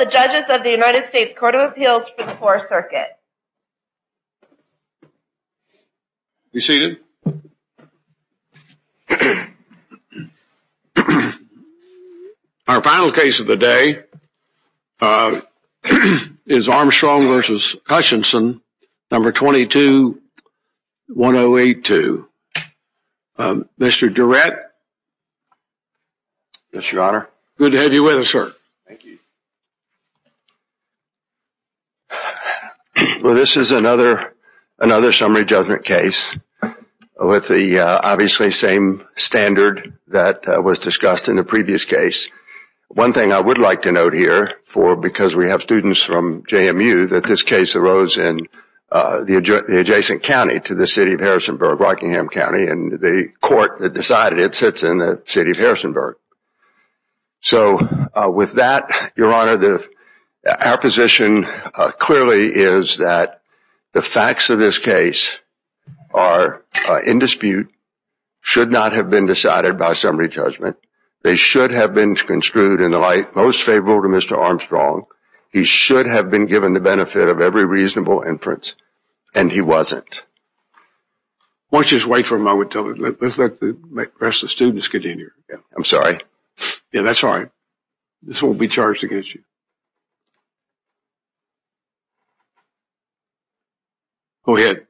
of the United States Court of Appeals for the 4th Circuit. Be seated. Our final case of the day is Armstrong v. Hutchinson, No. 22-1082. Mr. Durrett. Yes, Your Honor. Good to have you with us, sir. Well, this is another summary judgment case with the obviously same standard that was discussed in the previous case. One thing I would like to note here, because we have students from JMU, that this case arose in the adjacent county to the city of Harrisonburg, Rockingham County, and the court that decided it sits in the city of Harrisonburg. So with that, Your Honor, our position clearly is that the facts of this case are in dispute, should not have been decided by summary judgment. They should have been construed in the light most favorable to Mr. Armstrong. He should have been given the benefit of every reasonable inference, and he wasn't. Why don't you just wait for a moment? Let's let the rest of the students continue. I'm sorry. Yeah, that's all right. This won't be charged against you. Go ahead.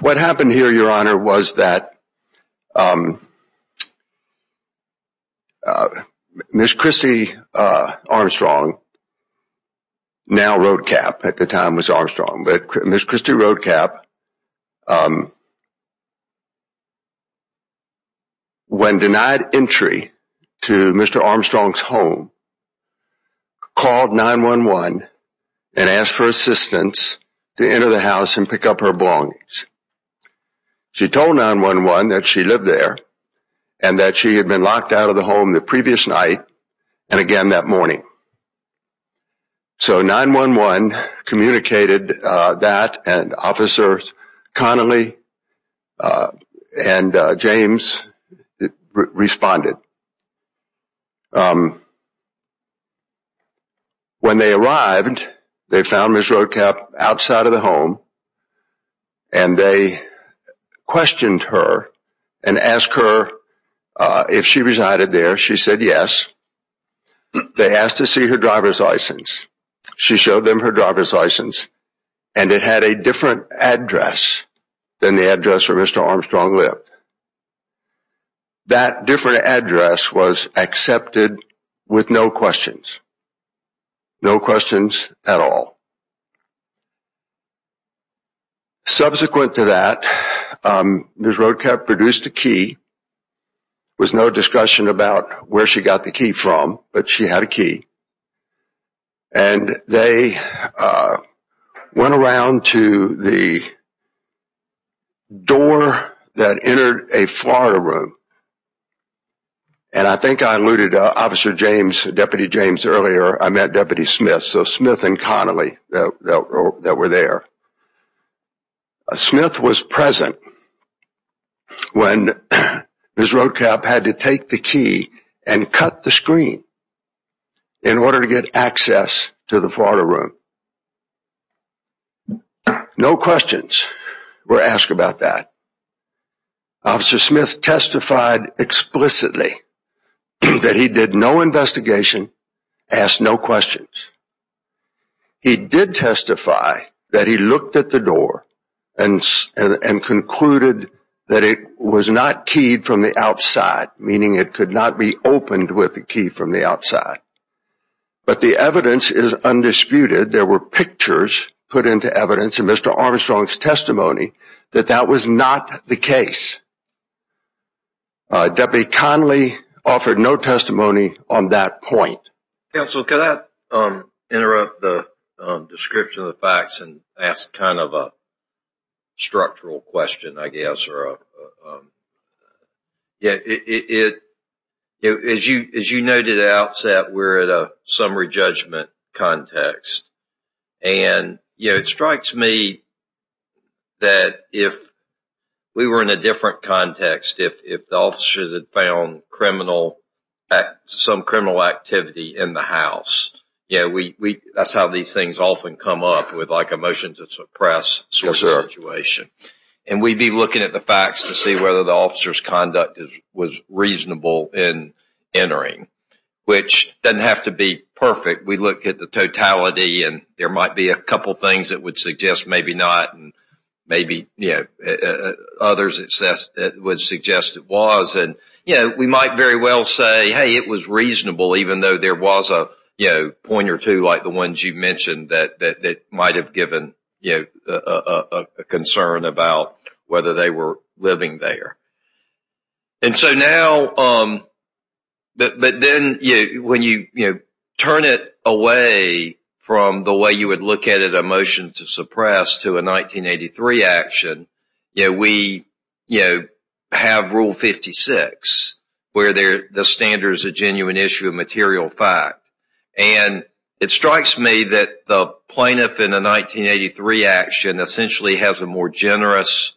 What happened here, Your Honor, was that Ms. Christy Armstrong, now Road Cap at the time, was Armstrong. Ms. Christy Road Cap, when denied entry to Mr. Armstrong's home, called 911 and asked for assistance to enter the house and pick up her belongings. She told 911 that she lived there and that she had been locked out of the home the previous night and again that morning. So 911 communicated that, and Officers Connolly and James responded. When they arrived, they found Ms. Road Cap outside of the home, and they questioned her and asked her if she resided there. She said yes. They asked to see her driver's license. She showed them her driver's license, and it had a different address than the address where Mr. Armstrong lived. That different address was accepted with no questions. No questions at all. Subsequent to that, Ms. Road Cap produced a key. There was no discussion about where she got the key from, but she had a key. They went around to the door that entered a Florida room, and I think I alluded to Officer James, Deputy James earlier. I meant Deputy Smith, so Smith and Connolly that were there. Smith was present when Ms. Road Cap had to take the key and cut the screen in order to get access to the Florida room. No questions were asked about that. Officer Smith testified explicitly that he did no investigation, asked no questions. He did testify that he looked at the door and concluded that it was not keyed from the outside, meaning it could not be opened with a key from the outside. But the evidence is undisputed. There were pictures put into evidence in Mr. Armstrong's testimony that that was not the case. Deputy Connolly offered no testimony on that point. Counsel, can I interrupt the description of the facts and ask a structural question? As you noted at the outset, we're in a summary judgment context. It strikes me that if we were in a different context, if the officers had found some criminal activity in the house, that's how these things often come up with a motion to suppress sort of situation. And we'd be looking at the facts to see whether the officer's conduct was reasonable in entering, which doesn't have to be perfect. We look at the totality, and there might be a couple things that would suggest maybe not, and maybe others would suggest it was. And we might very well say, hey, it was reasonable, even though there was a point or two like the ones you mentioned that might have given a concern about whether they were living there. And so now, but then when you turn it away from the way you would look at it, a motion to suppress to a 1983 action, we have Rule 56, where the standard is a genuine issue of material fact. And it strikes me that the plaintiff in a 1983 action essentially has a more generous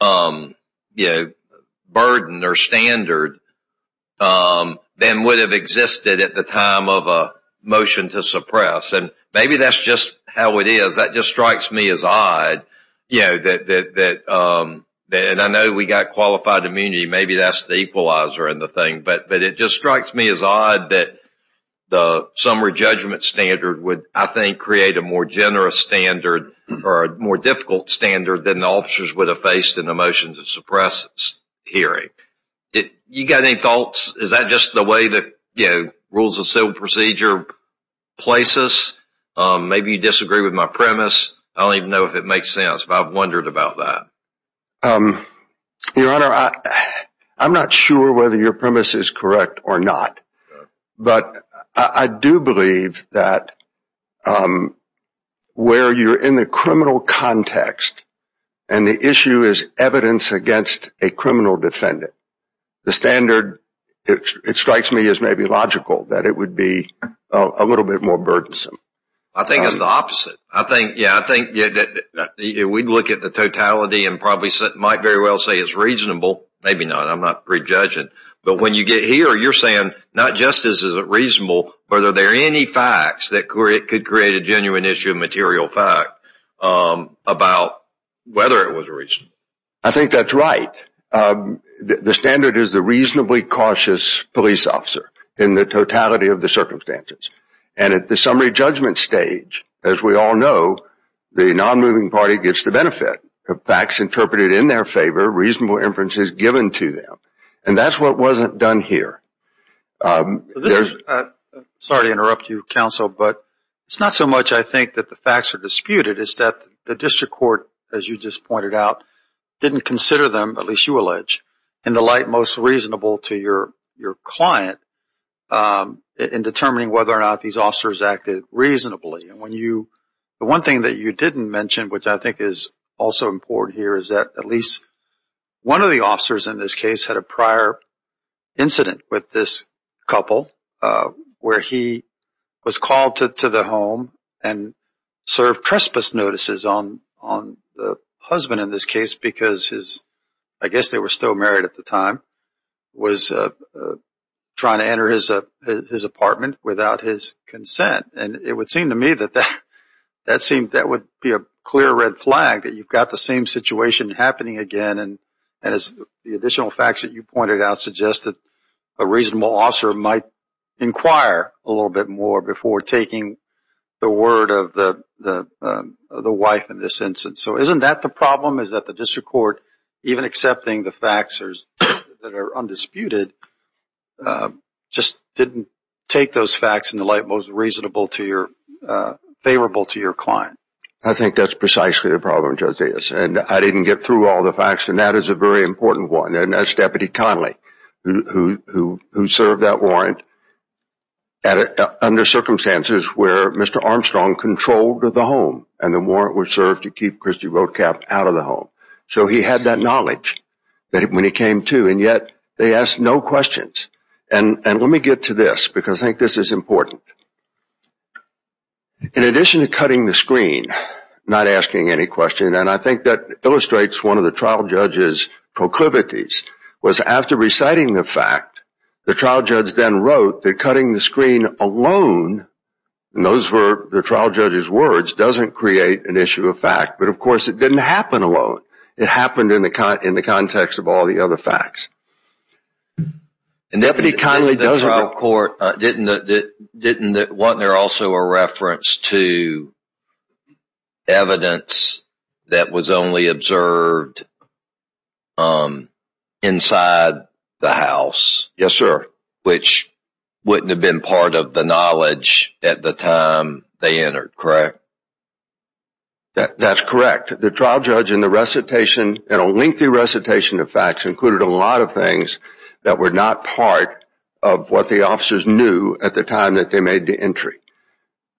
burden or standard than would have existed at the time of a motion to suppress. And maybe that's just how it is. That just strikes me as odd. And I know we got qualified immunity. Maybe that's the equalizer in the thing. But it just strikes me as odd that the summary judgment standard would, I think, create a more generous standard or a more difficult standard than the officers would have faced in a motion to suppress hearing. You got any thoughts? Is that just the way that rules of civil procedure places? Maybe you disagree with my premise. I don't even know if it makes sense, but I've wondered about that. Your Honor, I'm not sure whether your premise is correct or not. But I do believe that where you're in the criminal context and the issue is evidence against a criminal defendant, the standard, it strikes me, is maybe logical that it would be a little bit more burdensome. I think it's the opposite. We'd look at the totality and probably might very well say it's reasonable. Maybe not. I'm not prejudging. But when you get here, you're saying not just is it reasonable, but are there any facts that could create a genuine issue of material fact about whether it was reasonable? I think that's right. The standard is the reasonably cautious police officer in the totality of the circumstances. And at the summary judgment stage, as we all know, the nonmoving party gets the benefit of facts interpreted in their favor, reasonable inferences given to them. And that's what wasn't done here. Sorry to interrupt you, Counsel, but it's not so much, I think, that the facts are disputed. It's that the district court, as you just pointed out, didn't consider them, at least you allege, in the light most reasonable to your client in determining whether or not these officers acted reasonably. The one thing that you didn't mention, which I think is also important here, is that at least one of the officers in this case had a prior incident with this couple where he was called to the home and served trespass notices on the husband in this case because I guess they were still married at the time, was trying to enter his apartment without his consent. And it would seem to me that that would be a clear red flag that you've got the same situation happening again. And as the additional facts that you pointed out suggest that a reasonable officer might inquire a little bit more before taking the word of the wife in this instance. So isn't that the problem? Is that the district court, even accepting the facts that are undisputed, just didn't take those facts in the light most reasonable to your client? I think that's precisely the problem, Judge Dias. And I didn't get through all the facts, and that is a very important one. And that's Deputy Connolly, who served that warrant under circumstances where Mr. Armstrong controlled the home and the warrant was served to keep Christie Roadcap out of the home. So he had that knowledge when he came to, and yet they asked no questions. And let me get to this because I think this is important. In addition to cutting the screen, not asking any question, and I think that illustrates one of the trial judge's proclivities, was after reciting the fact, the trial judge then wrote that cutting the screen alone, and those were the trial judge's words, doesn't create an issue of fact. But, of course, it didn't happen alone. It happened in the context of all the other facts. And Deputy Connolly doesn't… In the trial court, wasn't there also a reference to evidence that was only observed inside the house? Yes, sir. Which wouldn't have been part of the knowledge at the time they entered, correct? That's correct. The trial judge in the recitation, in a lengthy recitation of facts, included a lot of things that were not part of what the officers knew at the time that they made the entry.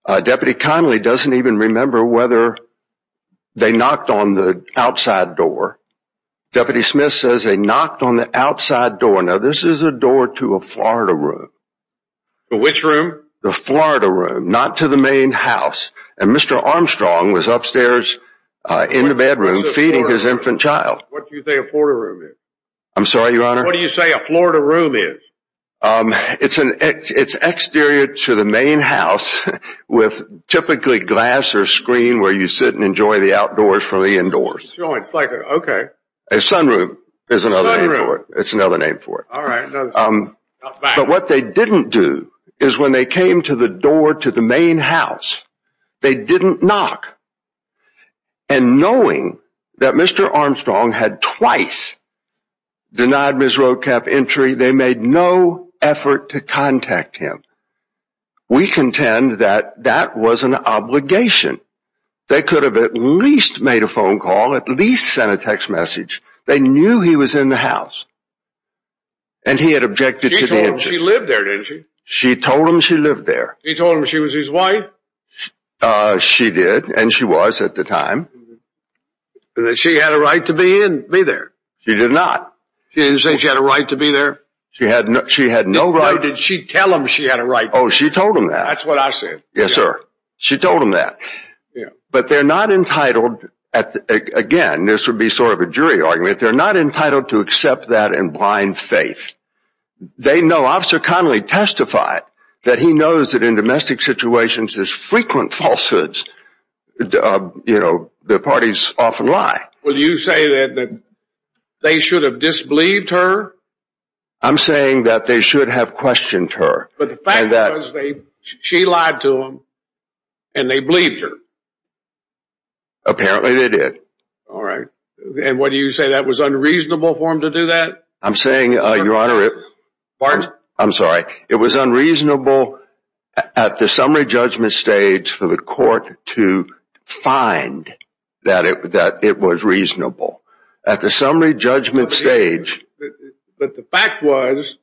Deputy Connolly doesn't even remember whether they knocked on the outside door. Deputy Smith says they knocked on the outside door. Now, this is a door to a Florida room. Which room? The Florida room, not to the main house. And Mr. Armstrong was upstairs in the bedroom feeding his infant child. What do you say a Florida room is? I'm sorry, Your Honor? What do you say a Florida room is? It's exterior to the main house with typically glass or screen where you sit and enjoy the outdoors from the indoors. Okay. A sunroom is another name for it. It's another name for it. All right. But what they didn't do is when they came to the door to the main house, they didn't knock. And knowing that Mr. Armstrong had twice denied Ms. Roadcap entry, they made no effort to contact him. We contend that that was an obligation. They could have at least made a phone call, at least sent a text message. They knew he was in the house. And he had objected to the entry. She told him she lived there, didn't she? She told him she lived there. She told him she was his wife? She did, and she was at the time. She had a right to be there? She did not. She didn't say she had a right to be there? She had no right. Why did she tell him she had a right to be there? Oh, she told him that. That's what I said. Yes, sir. She told him that. But they're not entitled, again, this would be sort of a jury argument, they're not entitled to accept that in blind faith. They know, Officer Connolly testified that he knows that in domestic situations there's frequent falsehoods. You know, the parties often lie. Well, you say that they should have disbelieved her? I'm saying that they should have questioned her. But the fact was, she lied to him, and they believed her. Apparently they did. All right. And what do you say, that was unreasonable for them to do that? I'm saying, Your Honor, it was unreasonable at the summary judgment stage for the court to find that it was reasonable. At the summary judgment stage. But the fact was,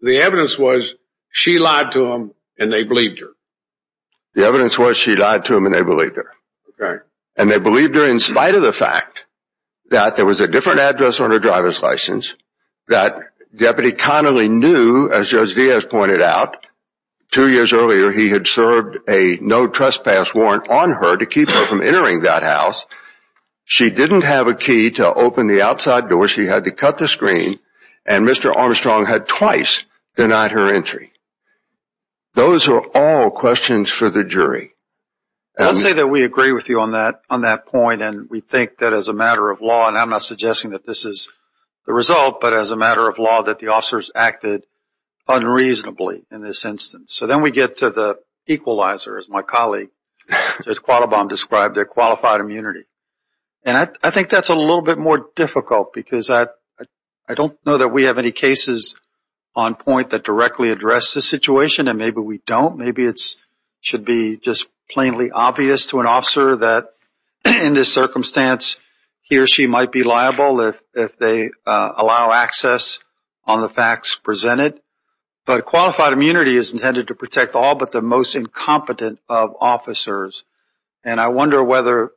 the evidence was, she lied to him, and they believed her. The evidence was, she lied to him, and they believed her. And they believed her in spite of the fact that there was a different address on her driver's license, that Deputy Connolly knew, as Judge Diaz pointed out, two years earlier he had served a no trespass warrant on her to keep her from entering that house. She didn't have a key to open the outside door, she had to cut the screen, and Mr. Armstrong had twice denied her entry. I'll say that we agree with you on that point, and we think that as a matter of law, and I'm not suggesting that this is the result, but as a matter of law, that the officers acted unreasonably in this instance. So then we get to the equalizer, as my colleague Judge Qualibam described, their qualified immunity. And I think that's a little bit more difficult, because I don't know that we have any cases on point that directly address this situation, and maybe we don't, maybe it should be just plainly obvious to an officer that in this circumstance, he or she might be liable if they allow access on the facts presented. But qualified immunity is intended to protect all but the most incompetent of officers, and I wonder whether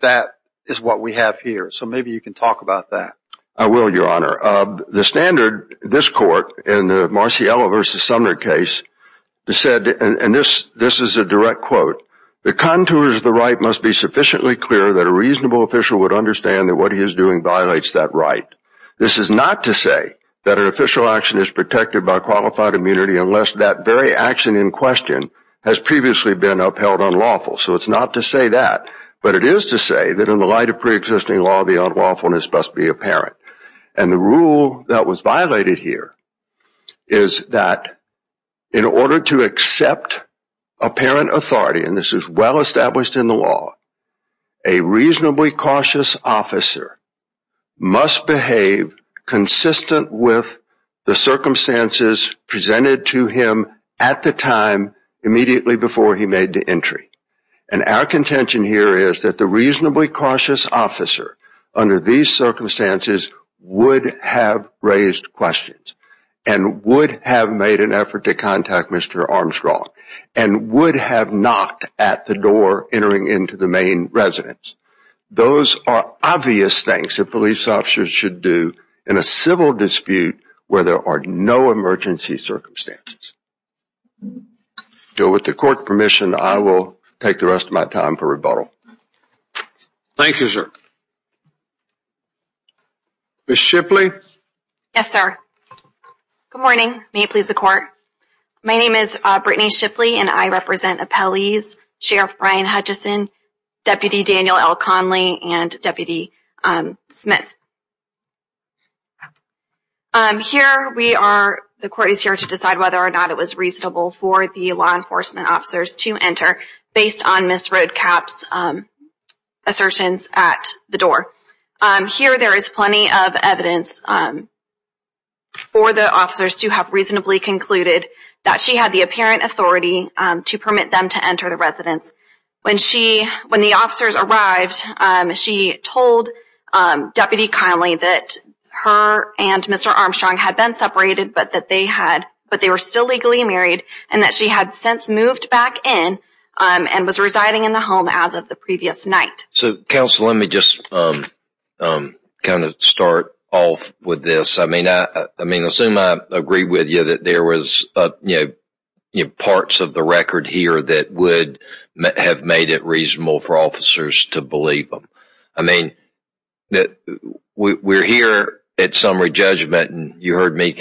that is what we have here, so maybe you can talk about that. I will, Your Honor. The standard, this court, in the Marciello v. Sumner case, said, and this is a direct quote, the contours of the right must be sufficiently clear that a reasonable official would understand that what he is doing violates that right. This is not to say that an official action is protected by qualified immunity unless that very action in question has previously been upheld unlawful. So it's not to say that, but it is to say that in the light of preexisting law, the unlawfulness must be apparent. And the rule that was violated here is that in order to accept apparent authority, and this is well established in the law, a reasonably cautious officer must behave consistent with the circumstances presented to him at the time immediately before he made the entry. And our contention here is that the reasonably cautious officer under these circumstances would have raised questions and would have made an effort to contact Mr. Armstrong and would have knocked at the door entering into the main residence. Those are obvious things that police officers should do in a civil dispute where there are no emergency circumstances. With the court's permission, I will take the rest of my time for rebuttal. Thank you, sir. Ms. Shipley? Yes, sir. Good morning. May it please the court. My name is Brittany Shipley, and I represent appellees Sheriff Brian Hutchison, Deputy Daniel L. Conley, and Deputy Smith. Here, the court is here to decide whether or not it was reasonable for the law enforcement officers to enter based on Ms. Roadkapp's assertions at the door. Here, there is plenty of evidence for the officers to have reasonably concluded that she had the apparent authority to permit them to enter the residence. When the officers arrived, she told Deputy Conley that her and Mr. Armstrong had been separated but that they were still legally married and that she had since moved back in and was residing in the home as of the previous night. Counsel, let me just start off with this. I assume I agree with you that there were parts of the record here that would have made it reasonable for officers to believe them. We are here at summary judgment, and you heard me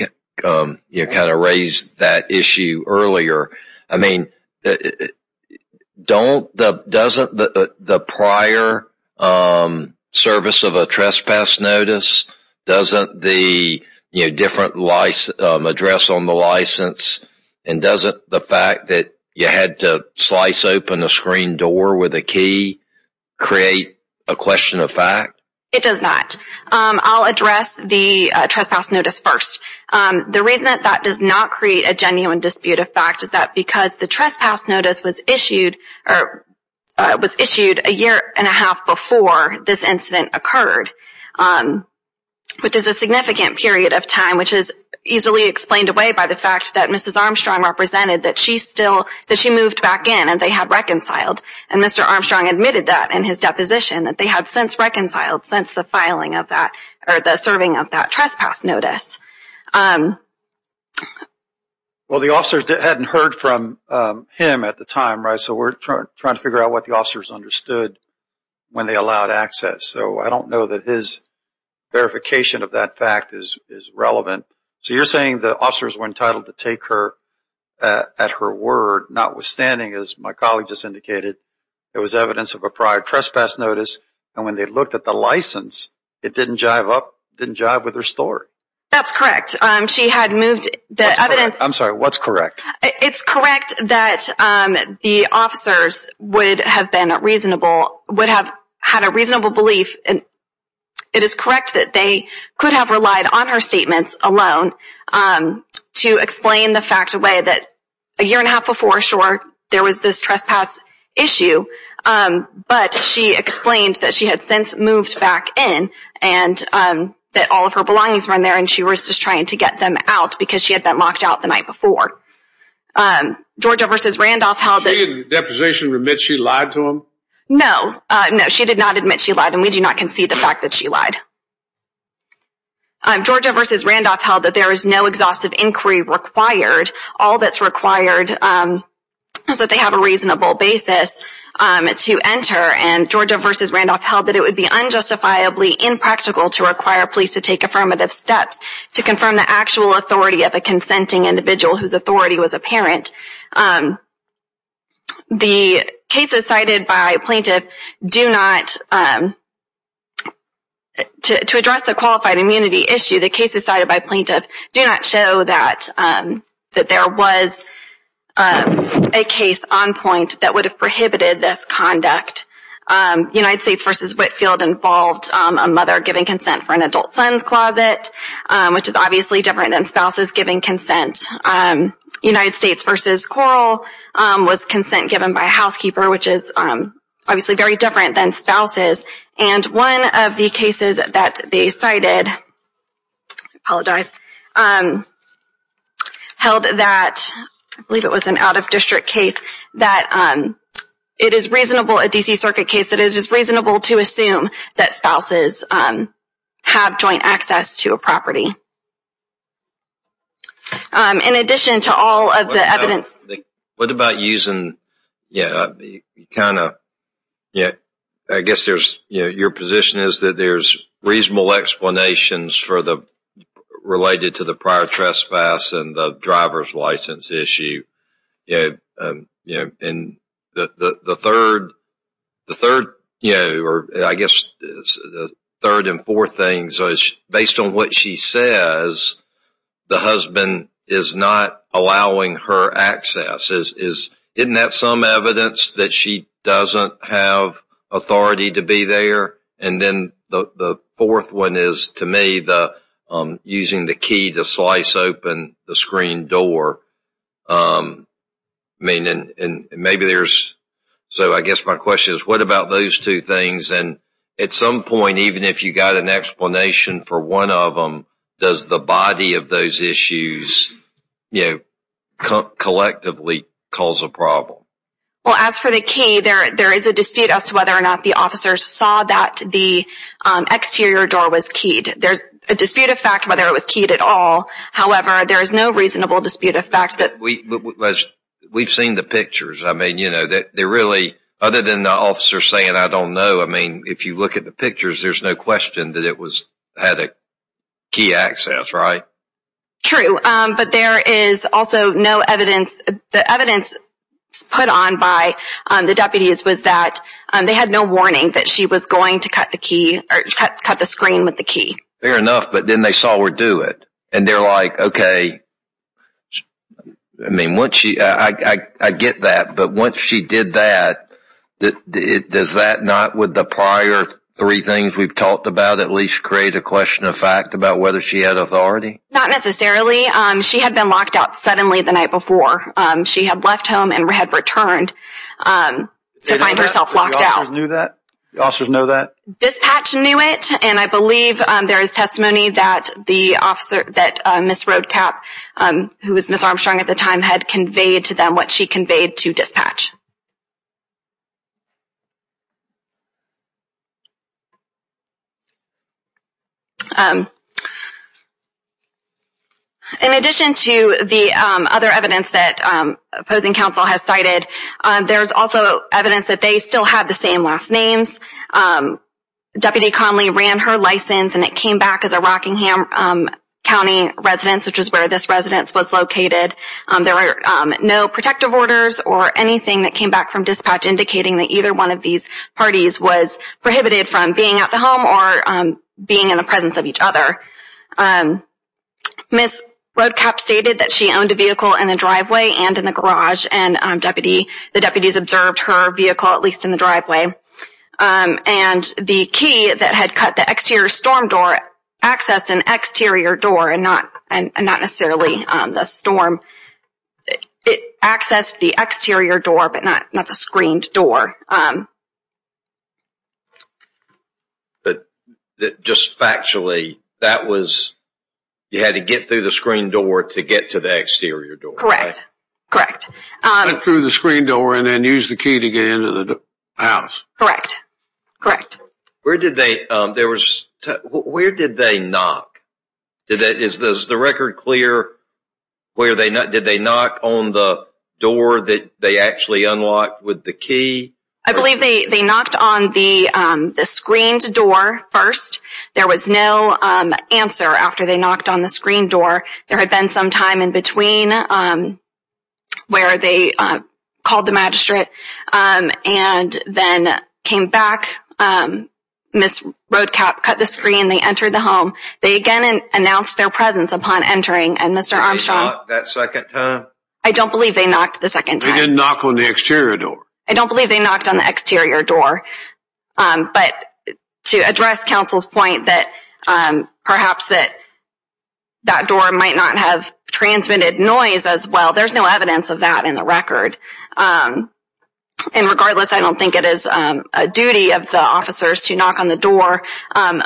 raise that issue earlier. I mean, doesn't the prior service of a trespass notice, doesn't the different address on the license, and doesn't the fact that you had to slice open a screen door with a key create a question of fact? It does not. I'll address the trespass notice first. The reason that that does not create a genuine dispute of fact is that because the trespass notice was issued a year and a half before this incident occurred, which is a significant period of time, which is easily explained away by the fact that Mrs. Armstrong represented that she moved back in and they had reconciled. And Mr. Armstrong admitted that in his deposition, that they had since reconciled since the filing of that or the serving of that trespass notice. Well, the officers hadn't heard from him at the time, right? So we're trying to figure out what the officers understood when they allowed access. So I don't know that his verification of that fact is relevant. So you're saying the officers were entitled to take her at her word, notwithstanding, as my colleague just indicated, it was evidence of a prior trespass notice. And when they looked at the license, it didn't jive up, didn't jive with her story. That's correct. She had moved the evidence. I'm sorry, what's correct? It's correct that the officers would have been reasonable, would have had a reasonable belief. It is correct that they could have relied on her statements alone to explain the fact away that a year and a half before, sure, there was this trespass issue, but she explained that she had since moved back in and that all of her belongings were in there and she was just trying to get them out because she had been locked out the night before. Georgia versus Randolph held that position. She lied to him? No, no, she did not admit she lied and we do not concede the fact that she lied. Georgia versus Randolph held that there is no exhaustive inquiry required. All that's required is that they have a reasonable basis to enter. And Georgia versus Randolph held that it would be unjustifiably impractical to require police to take affirmative steps to confirm the actual authority of a consenting individual whose authority was apparent. The cases cited by plaintiff do not, to address the qualified immunity issue, the cases cited by plaintiff do not show that there was a case on point that would have prohibited this conduct. United States versus Whitfield involved a mother giving consent for an adult son's closet, which is obviously different than spouses giving consent. United States versus Coral was consent given by a housekeeper, which is obviously very different than spouses. And one of the cases that they cited held that, I believe it was an out-of-district case, that it is reasonable, a D.C. Circuit case, that it is reasonable to assume that spouses have joint access to a property. In addition to all of the evidence. What about using, yeah, kind of, I guess your position is that there's reasonable explanations related to the prior trespass and the driver's license issue. And the third, or I guess the third and fourth thing, based on what she says, the husband is not allowing her access. Isn't that some evidence that she doesn't have authority to be there? And then the fourth one is, to me, using the key to slice open the screen door. I mean, and maybe there's, so I guess my question is, what about those two things? And at some point, even if you got an explanation for one of them, does the body of those issues, you know, collectively cause a problem? Well, as for the key, there is a dispute as to whether or not the officers saw that the exterior door was keyed. There's a dispute of fact whether it was keyed at all. However, there is no reasonable dispute of fact that. We've seen the pictures. I mean, you know, they're really, other than the officer saying, I don't know. I mean, if you look at the pictures, there's no question that it had key access, right? True. But there is also no evidence. The evidence put on by the deputies was that they had no warning that she was going to cut the key or cut the screen with the key. Fair enough, but then they saw her do it. And they're like, OK. I mean, once she, I get that. But once she did that, does that not, with the prior three things we've talked about, at least create a question of fact about whether she had authority? Not necessarily. She had been locked out suddenly the night before. She had left home and had returned to find herself locked out. The officers knew that? The officers know that? Dispatch knew it. And I believe there is testimony that the officer, that Ms. Roadcap, who was Ms. Armstrong at the time, had conveyed to them what she conveyed to dispatch. In addition to the other evidence that opposing counsel has cited, there's also evidence that they still have the same last names. Deputy Conley ran her license, and it came back as a Rockingham County residence, which is where this residence was located. There were no protective orders or anything that came back from dispatch indicating that either one of these parties was prohibited from being at the home or being in the presence of each other. Ms. Roadcap stated that she owned a vehicle in the driveway and in the garage, and the deputies observed her vehicle, at least in the driveway. And the key that had cut the exterior storm door accessed an exterior door, and not necessarily the storm. It accessed the exterior door, but not the screened door. But just factually, that was, you had to get through the screened door to get to the exterior door? Correct. Correct. Get through the screened door and then use the key to get into the house. Correct. Correct. Where did they, there was, where did they knock? Is the record clear where they, did they knock on the door that they actually unlocked with the key? I believe they knocked on the screened door first. There was no answer after they knocked on the screened door. There had been some time in between where they called the magistrate and then came back. Ms. Roadcap cut the screen, they entered the home. They again announced their presence upon entering, and Mr. Armstrong. Did they knock that second time? I don't believe they knocked the second time. They didn't knock on the exterior door. I don't believe they knocked on the exterior door. But to address counsel's point that perhaps that door might not have transmitted noise as well, there's no evidence of that in the record. And regardless, I don't think it is a duty of the officers to knock on the door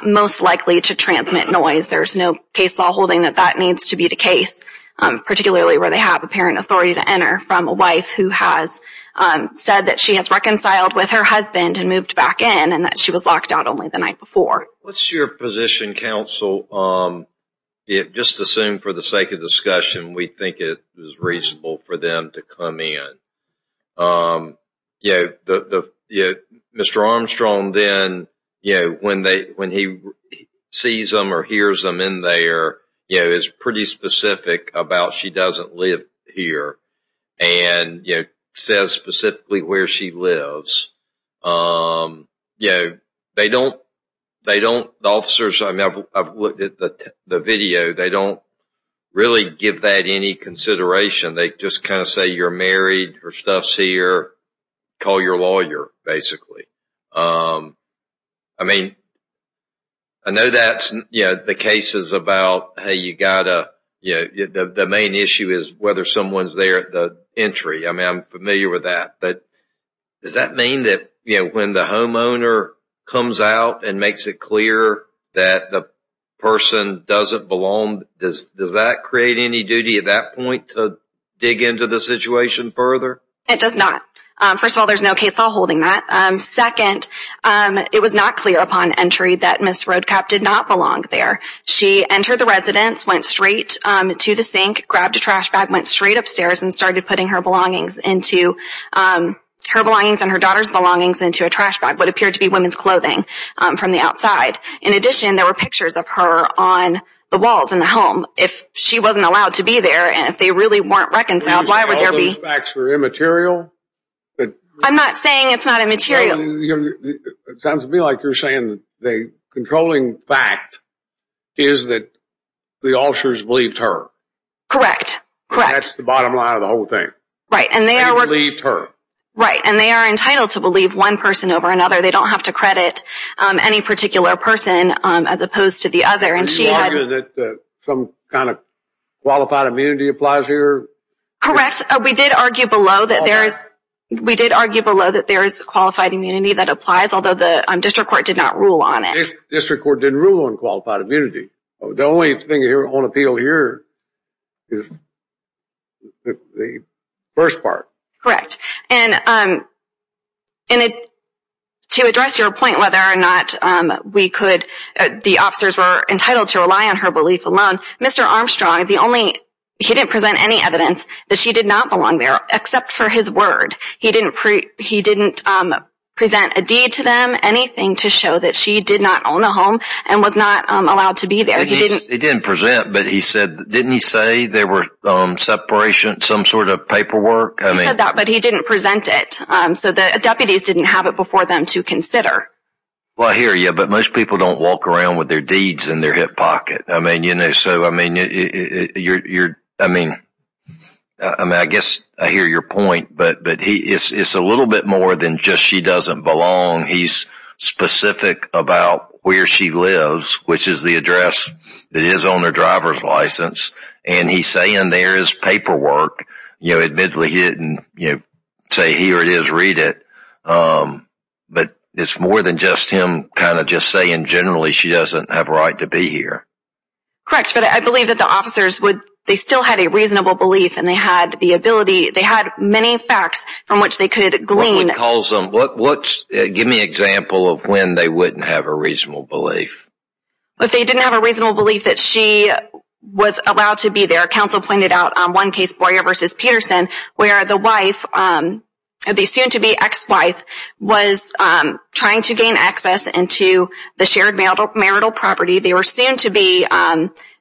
most likely to transmit noise. There's no case law holding that that needs to be the case, particularly where they have apparent authority to enter from a wife who has said that she has reconciled with her husband and moved back in and that she was locked out only the night before. What's your position, counsel? Just assume for the sake of discussion, we think it is reasonable for them to come in. Mr. Armstrong then, when he sees them or hears them in there, is pretty specific about she doesn't live here and says specifically where she lives. The officers, I've looked at the video, they don't really give that any consideration. They just kind of say you're married, her stuff's here, call your lawyer basically. I mean, I know that the case is about the main issue is whether someone's there at the entry. I mean, I'm familiar with that. But does that mean that when the homeowner comes out and makes it clear that the person doesn't belong, does that create any duty at that point to dig into the situation further? It does not. First of all, there's no case law holding that. Second, it was not clear upon entry that Ms. Roadkapp did not belong there. She entered the residence, went straight to the sink, grabbed a trash bag, went straight upstairs and started putting her belongings and her daughter's belongings into a trash bag, what appeared to be women's clothing from the outside. In addition, there were pictures of her on the walls in the home. If she wasn't allowed to be there and if they really weren't reconciled, why would there be? Are you saying all those facts were immaterial? I'm not saying it's not immaterial. It sounds to me like you're saying the controlling fact is that the Alshers believed her. Correct. That's the bottom line of the whole thing. They believed her. Right, and they are entitled to believe one person over another. They don't have to credit any particular person as opposed to the other. Are you arguing that some kind of qualified immunity applies here? Correct. We did argue below that there is qualified immunity that applies, although the district court did not rule on it. The district court didn't rule on qualified immunity. The only thing on appeal here is the first part. Correct. And to address your point whether or not the officers were entitled to rely on her belief alone, Mr. Armstrong, he didn't present any evidence that she did not belong there except for his word. He didn't present a deed to them, anything to show that she did not own a home and was not allowed to be there. He didn't present, but didn't he say there was separation, some sort of paperwork? He said that, but he didn't present it, so the deputies didn't have it before them to consider. I hear you, but most people don't walk around with their deeds in their hip pocket. I mean, I guess I hear your point, but it's a little bit more than just she doesn't belong. He's specific about where she lives, which is the address that is on her driver's license, and he's saying there is paperwork. Admittedly, he didn't say here it is, read it, but it's more than just him kind of just saying generally she doesn't have a right to be here. Correct, but I believe that the officers, they still had a reasonable belief, and they had the ability, they had many facts from which they could glean. Give me an example of when they wouldn't have a reasonable belief. If they didn't have a reasonable belief that she was allowed to be there, counsel pointed out one case, Boyer v. Peterson, where the wife, the soon-to-be ex-wife, was trying to gain access into the shared marital property. They were soon to be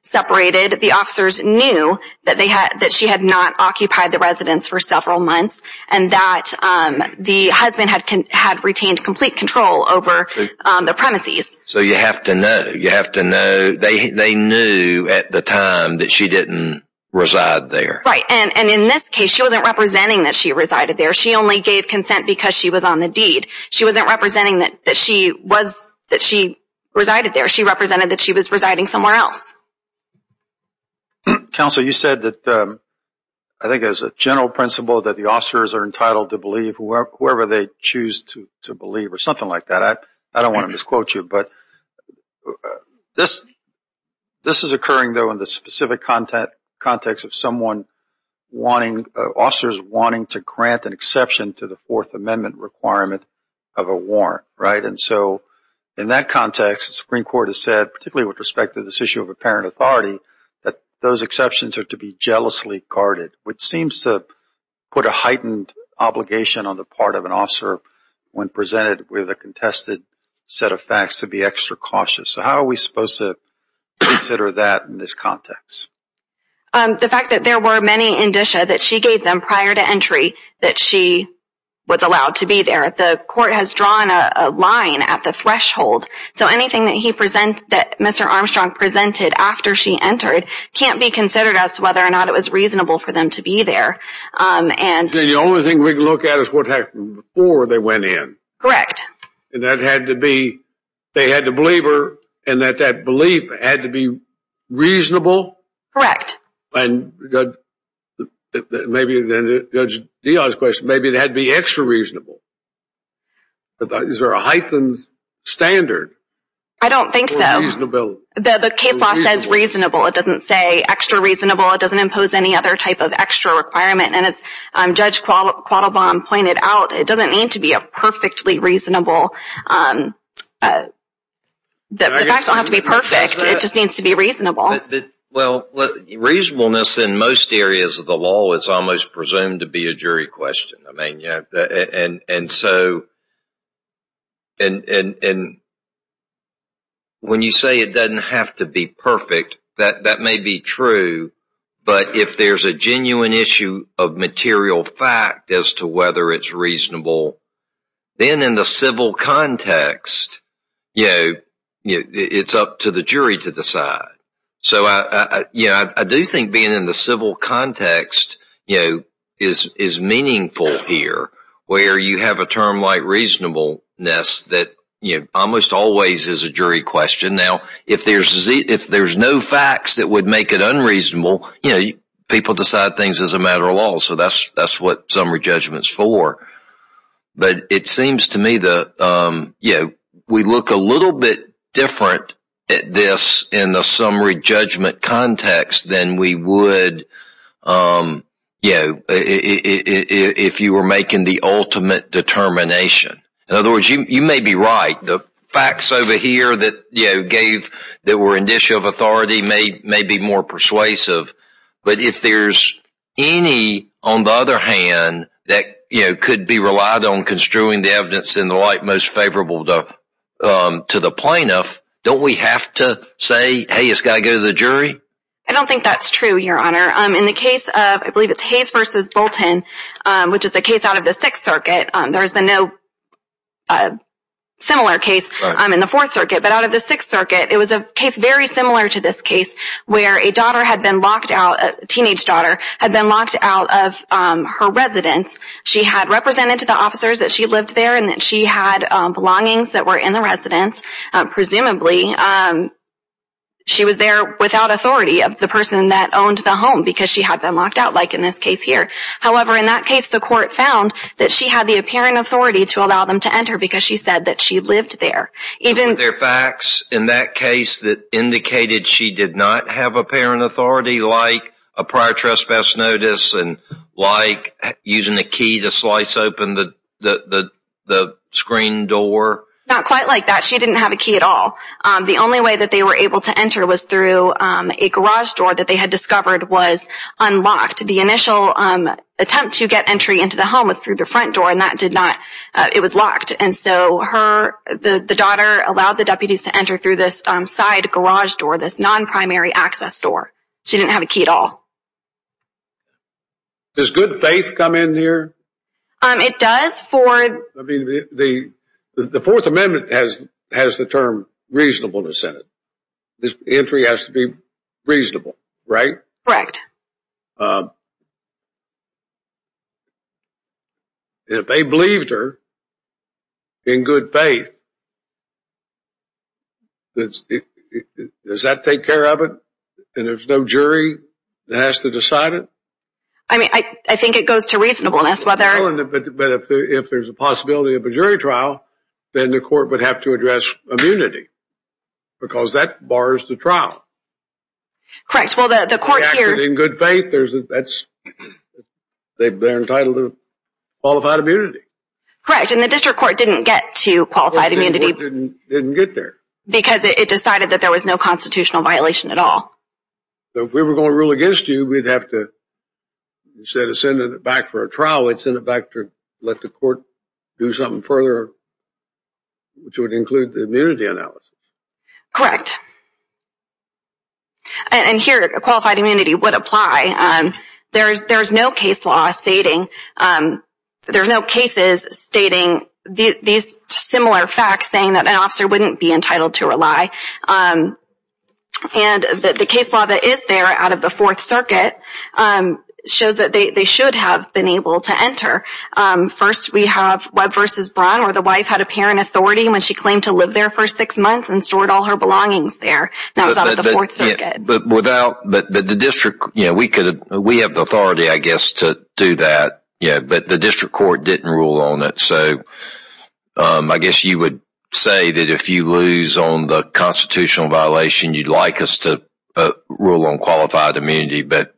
separated. The officers knew that she had not occupied the residence for several months and that the husband had retained complete control over the premises. So you have to know. You have to know. They knew at the time that she didn't reside there. Right, and in this case, she wasn't representing that she resided there. She only gave consent because she was on the deed. She wasn't representing that she was, that she resided there. She represented that she was residing somewhere else. Counsel, you said that, I think as a general principle, that the officers are entitled to believe whoever they choose to believe or something like that. I don't want to misquote you, but this is occurring, though, in the specific context of someone wanting, officers wanting to grant an exception to the Fourth Amendment requirement of a warrant, right? And so in that context, the Supreme Court has said, particularly with respect to this issue of apparent authority, that those exceptions are to be jealously guarded, when presented with a contested set of facts, to be extra cautious. So how are we supposed to consider that in this context? The fact that there were many indicia that she gave them prior to entry that she was allowed to be there. The court has drawn a line at the threshold. So anything that he presented, that Mr. Armstrong presented after she entered, can't be considered as whether or not it was reasonable for them to be there. So the only thing we can look at is what happened before they went in. Correct. And that had to be, they had to believe her, and that that belief had to be reasonable? Correct. And maybe, then to Judge Diaz's question, maybe it had to be extra reasonable. Is there a heightened standard? I don't think so. For reasonability. The case law says reasonable. It doesn't say extra reasonable. It doesn't impose any other type of extra requirement. And as Judge Quattlebaum pointed out, it doesn't need to be a perfectly reasonable. The facts don't have to be perfect. It just needs to be reasonable. Well, reasonableness in most areas of the law is almost presumed to be a jury question. And so when you say it doesn't have to be perfect, that may be true. But if there's a genuine issue of material fact as to whether it's reasonable, then in the civil context, it's up to the jury to decide. I do think being in the civil context is meaningful here, where you have a term like reasonableness that almost always is a jury question. Now, if there's no facts that would make it unreasonable, people decide things as a matter of law. So that's what summary judgment is for. But it seems to me that we look a little bit different at this in the summary judgment context than we would if you were making the ultimate determination. In other words, you may be right. The facts over here that were an issue of authority may be more persuasive. But if there's any, on the other hand, that could be relied on construing the evidence in the light most favorable to the plaintiff, don't we have to say, hey, it's got to go to the jury? I don't think that's true, Your Honor. In the case of, I believe it's Hayes v. Bolton, which is a case out of the Sixth Circuit. There's been no similar case in the Fourth Circuit. But out of the Sixth Circuit, it was a case very similar to this case where a teenage daughter had been locked out of her residence. She had represented to the officers that she lived there and that she had belongings that were in the residence. Presumably, she was there without authority of the person that owned the home because she had been locked out, like in this case here. However, in that case, the court found that she had the apparent authority to allow them to enter because she said that she lived there. Are there facts in that case that indicated she did not have apparent authority like a prior trespass notice and like using a key to slice open the screen door? Not quite like that. She didn't have a key at all. The only way that they were able to enter was through a garage door that they had discovered was unlocked. The initial attempt to get entry into the home was through the front door, and that did not, it was locked. And so the daughter allowed the deputies to enter through this side garage door, this non-primary access door. She didn't have a key at all. Does good faith come in here? It does for... I mean, the Fourth Amendment has the term reasonable in the Senate. Entry has to be reasonable, right? Correct. If they believed her in good faith, does that take care of it? And there's no jury that has to decide it? I mean, I think it goes to reasonableness. But if there's a possibility of a jury trial, then the court would have to address immunity because that bars the trial. Correct. In good faith, they're entitled to qualified immunity. Correct, and the district court didn't get to qualified immunity. It didn't get there. Because it decided that there was no constitutional violation at all. So if we were going to rule against you, we'd have to, instead of sending it back for a trial, we'd send it back to let the court do something further, which would include the immunity analysis. Correct. And here, qualified immunity would apply. There's no case law stating, there's no cases stating these similar facts, saying that an officer wouldn't be entitled to rely. And the case law that is there out of the Fourth Circuit shows that they should have been able to enter. First, we have Webb v. Braun, where the wife had apparent authority when she claimed to live there for six months and stored all her belongings there. That was out of the Fourth Circuit. But the district, we have the authority, I guess, to do that. But the district court didn't rule on it. So I guess you would say that if you lose on the constitutional violation, you'd like us to rule on qualified immunity. But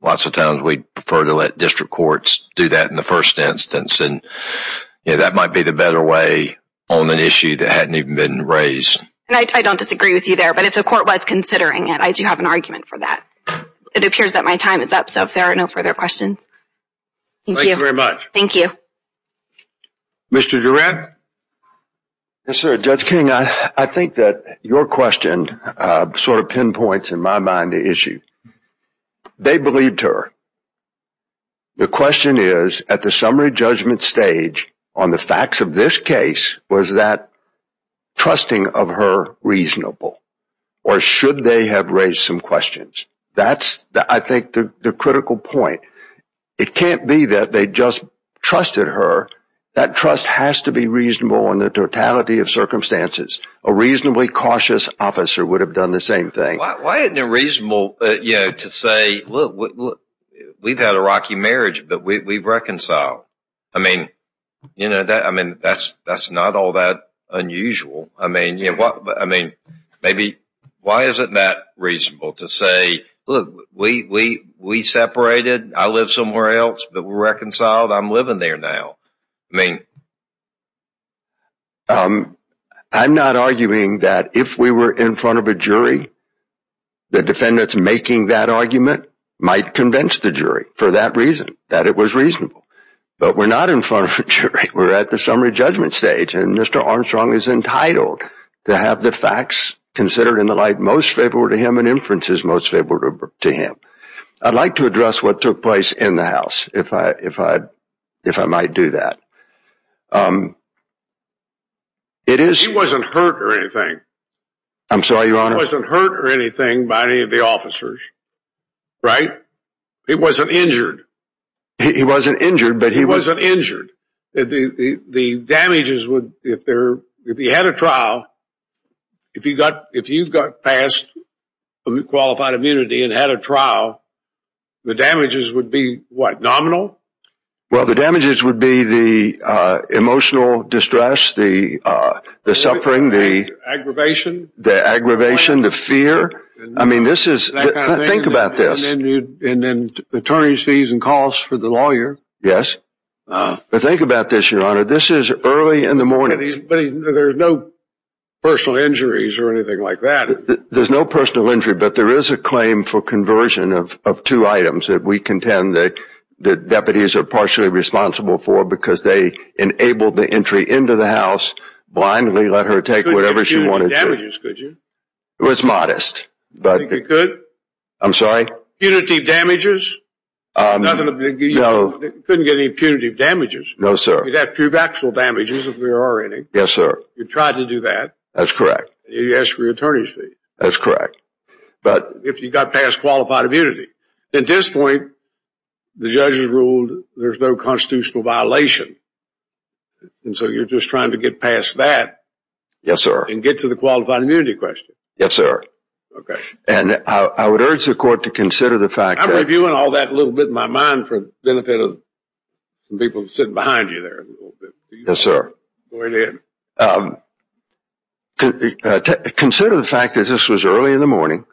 lots of times, we'd prefer to let district courts do that in the first instance. And that might be the better way on an issue that hadn't even been raised. I don't disagree with you there. But if the court was considering it, I do have an argument for that. It appears that my time is up. So if there are no further questions, thank you. Thank you very much. Thank you. Mr. Durant? Yes, sir. Judge King, I think that your question sort of pinpoints, in my mind, the issue. They believed her. The question is, at the summary judgment stage, on the facts of this case, was that trusting of her reasonable? Or should they have raised some questions? That's, I think, the critical point. It can't be that they just trusted her. That trust has to be reasonable in the totality of circumstances. A reasonably cautious officer would have done the same thing. Why isn't it reasonable to say, look, we've had a rocky marriage, but we've reconciled? I mean, that's not all that unusual. I mean, why isn't that reasonable to say, look, we separated. I live somewhere else, but we're reconciled. I'm living there now. I'm not arguing that if we were in front of a jury, the defendants making that argument might convince the jury for that reason, that it was reasonable. But we're not in front of a jury. We're at the summary judgment stage. And Mr. Armstrong is entitled to have the facts considered in the light most favorable to him and inferences most favorable to him. I'd like to address what took place in the house, if I might do that. He wasn't hurt or anything. I'm sorry, Your Honor? He wasn't hurt or anything by any of the officers. Right? He wasn't injured. He wasn't injured, but he was injured. The damages would, if he had a trial, if you got past qualified immunity and had a trial, the damages would be what, nominal? Well, the damages would be the emotional distress, the suffering, the aggravation, the fear. I mean, this is, think about this. And then attorney's fees and costs for the lawyer. Yes. But think about this, Your Honor. This is early in the morning. But there's no personal injuries or anything like that. There's no personal injury, but there is a claim for conversion of two items that we contend that deputies are partially responsible for, because they enabled the entry into the house, blindly let her take whatever she wanted. You couldn't get punitive damages, could you? It was modest. You think you could? I'm sorry? Punitive damages? No. You couldn't get any punitive damages. No, sir. You'd have to prove actual damages if there are any. Yes, sir. You tried to do that. That's correct. You asked for your attorney's fees. That's correct. But if you got past qualified immunity. At this point, the judges ruled there's no constitutional violation. And so you're just trying to get past that. Yes, sir. And get to the qualified immunity question. Yes, sir. Okay. And I would urge the court to consider the fact that You went all that little bit in my mind for the benefit of some people sitting behind you there. Yes, sir. Go ahead. Consider the fact that this was early in the morning,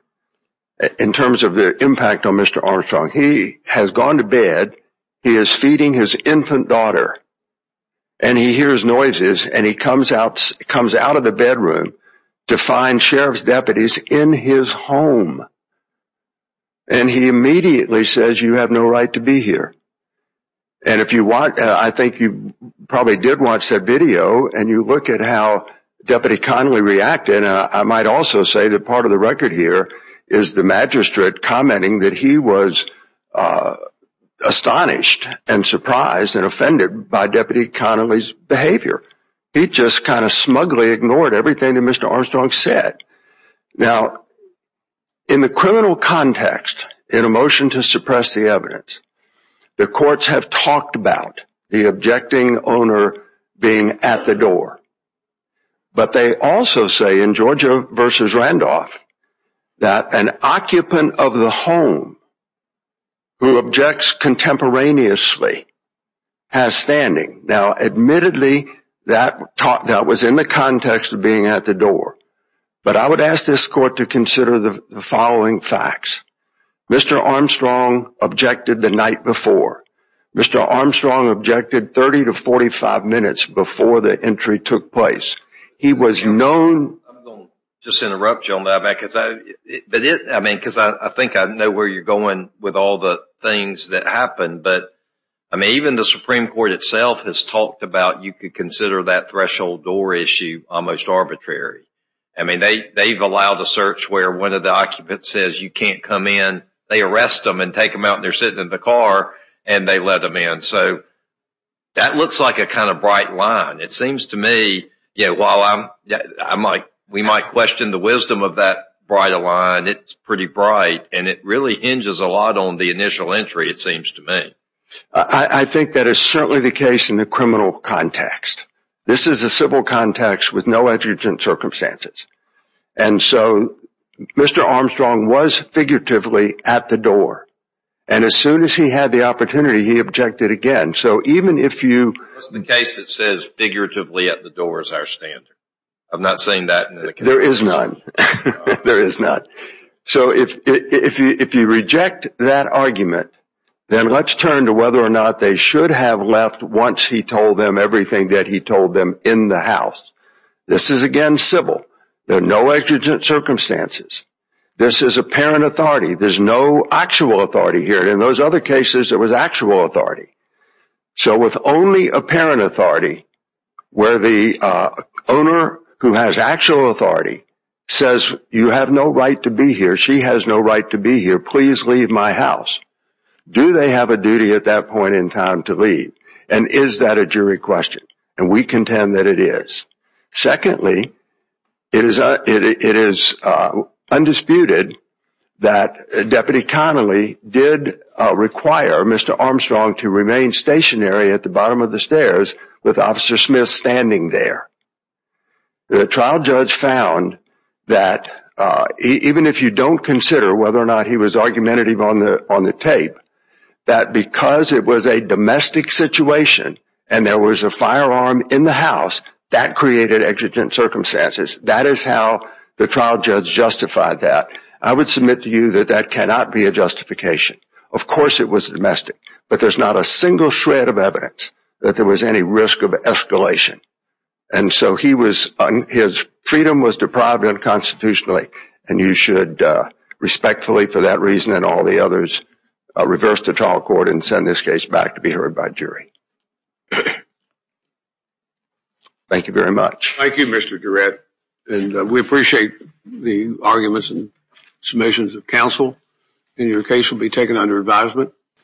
in terms of the impact on Mr. Armstrong. He has gone to bed. He is feeding his infant daughter. And he hears noises. And he comes out of the bedroom to find sheriff's deputies in his home. And he immediately says, you have no right to be here. And I think you probably did watch that video. And you look at how Deputy Connolly reacted. I might also say that part of the record here is the magistrate commenting that he was astonished and surprised and offended by Deputy Connolly's behavior. He just kind of smugly ignored everything that Mr. Armstrong said. Now, in the criminal context, in a motion to suppress the evidence, the courts have talked about the objecting owner being at the door. But they also say in Georgia v. Randolph that an occupant of the home who objects contemporaneously has standing. Now, admittedly, that was in the context of being at the door. But I would ask this court to consider the following facts. Mr. Armstrong objected the night before. Mr. Armstrong objected 30 to 45 minutes before the entry took place. I'm going to just interrupt you on that, because I think I know where you're going with all the things that happened. But even the Supreme Court itself has talked about you could consider that threshold door issue almost arbitrary. I mean, they've allowed a search where one of the occupants says you can't come in. They arrest them and take them out, and they're sitting in the car, and they let them in. So that looks like a kind of bright line. It seems to me, while we might question the wisdom of that bright line, it's pretty bright. And it really hinges a lot on the initial entry, it seems to me. I think that is certainly the case in the criminal context. This is a civil context with no exigent circumstances. And so Mr. Armstrong was figuratively at the door. And as soon as he had the opportunity, he objected again. What's the case that says figuratively at the door is our standard? I've not seen that. There is none. There is none. So if you reject that argument, then let's turn to whether or not they should have left once he told them everything that he told them in the house. This is, again, civil. There are no exigent circumstances. This is apparent authority. There's no actual authority here. In those other cases, there was actual authority. So with only apparent authority, where the owner who has actual authority says you have no right to be here, she has no right to be here, please leave my house. Do they have a duty at that point in time to leave? And is that a jury question? And we contend that it is. Secondly, it is undisputed that Deputy Connolly did require Mr. Armstrong to remain stationary at the bottom of the stairs with Officer Smith standing there. The trial judge found that even if you don't consider whether or not he was argumentative on the tape, that because it was a domestic situation and there was a firearm in the house, that created exigent circumstances. That is how the trial judge justified that. I would submit to you that that cannot be a justification. Of course it was domestic. But there's not a single shred of evidence that there was any risk of escalation. And so his freedom was deprived unconstitutionally. And you should respectfully, for that reason and all the others, reverse the trial court and send this case back to be heard by jury. Thank you very much. Thank you, Mr. Durrett. And we appreciate the arguments and submissions of counsel. And your case will be taken under advisement.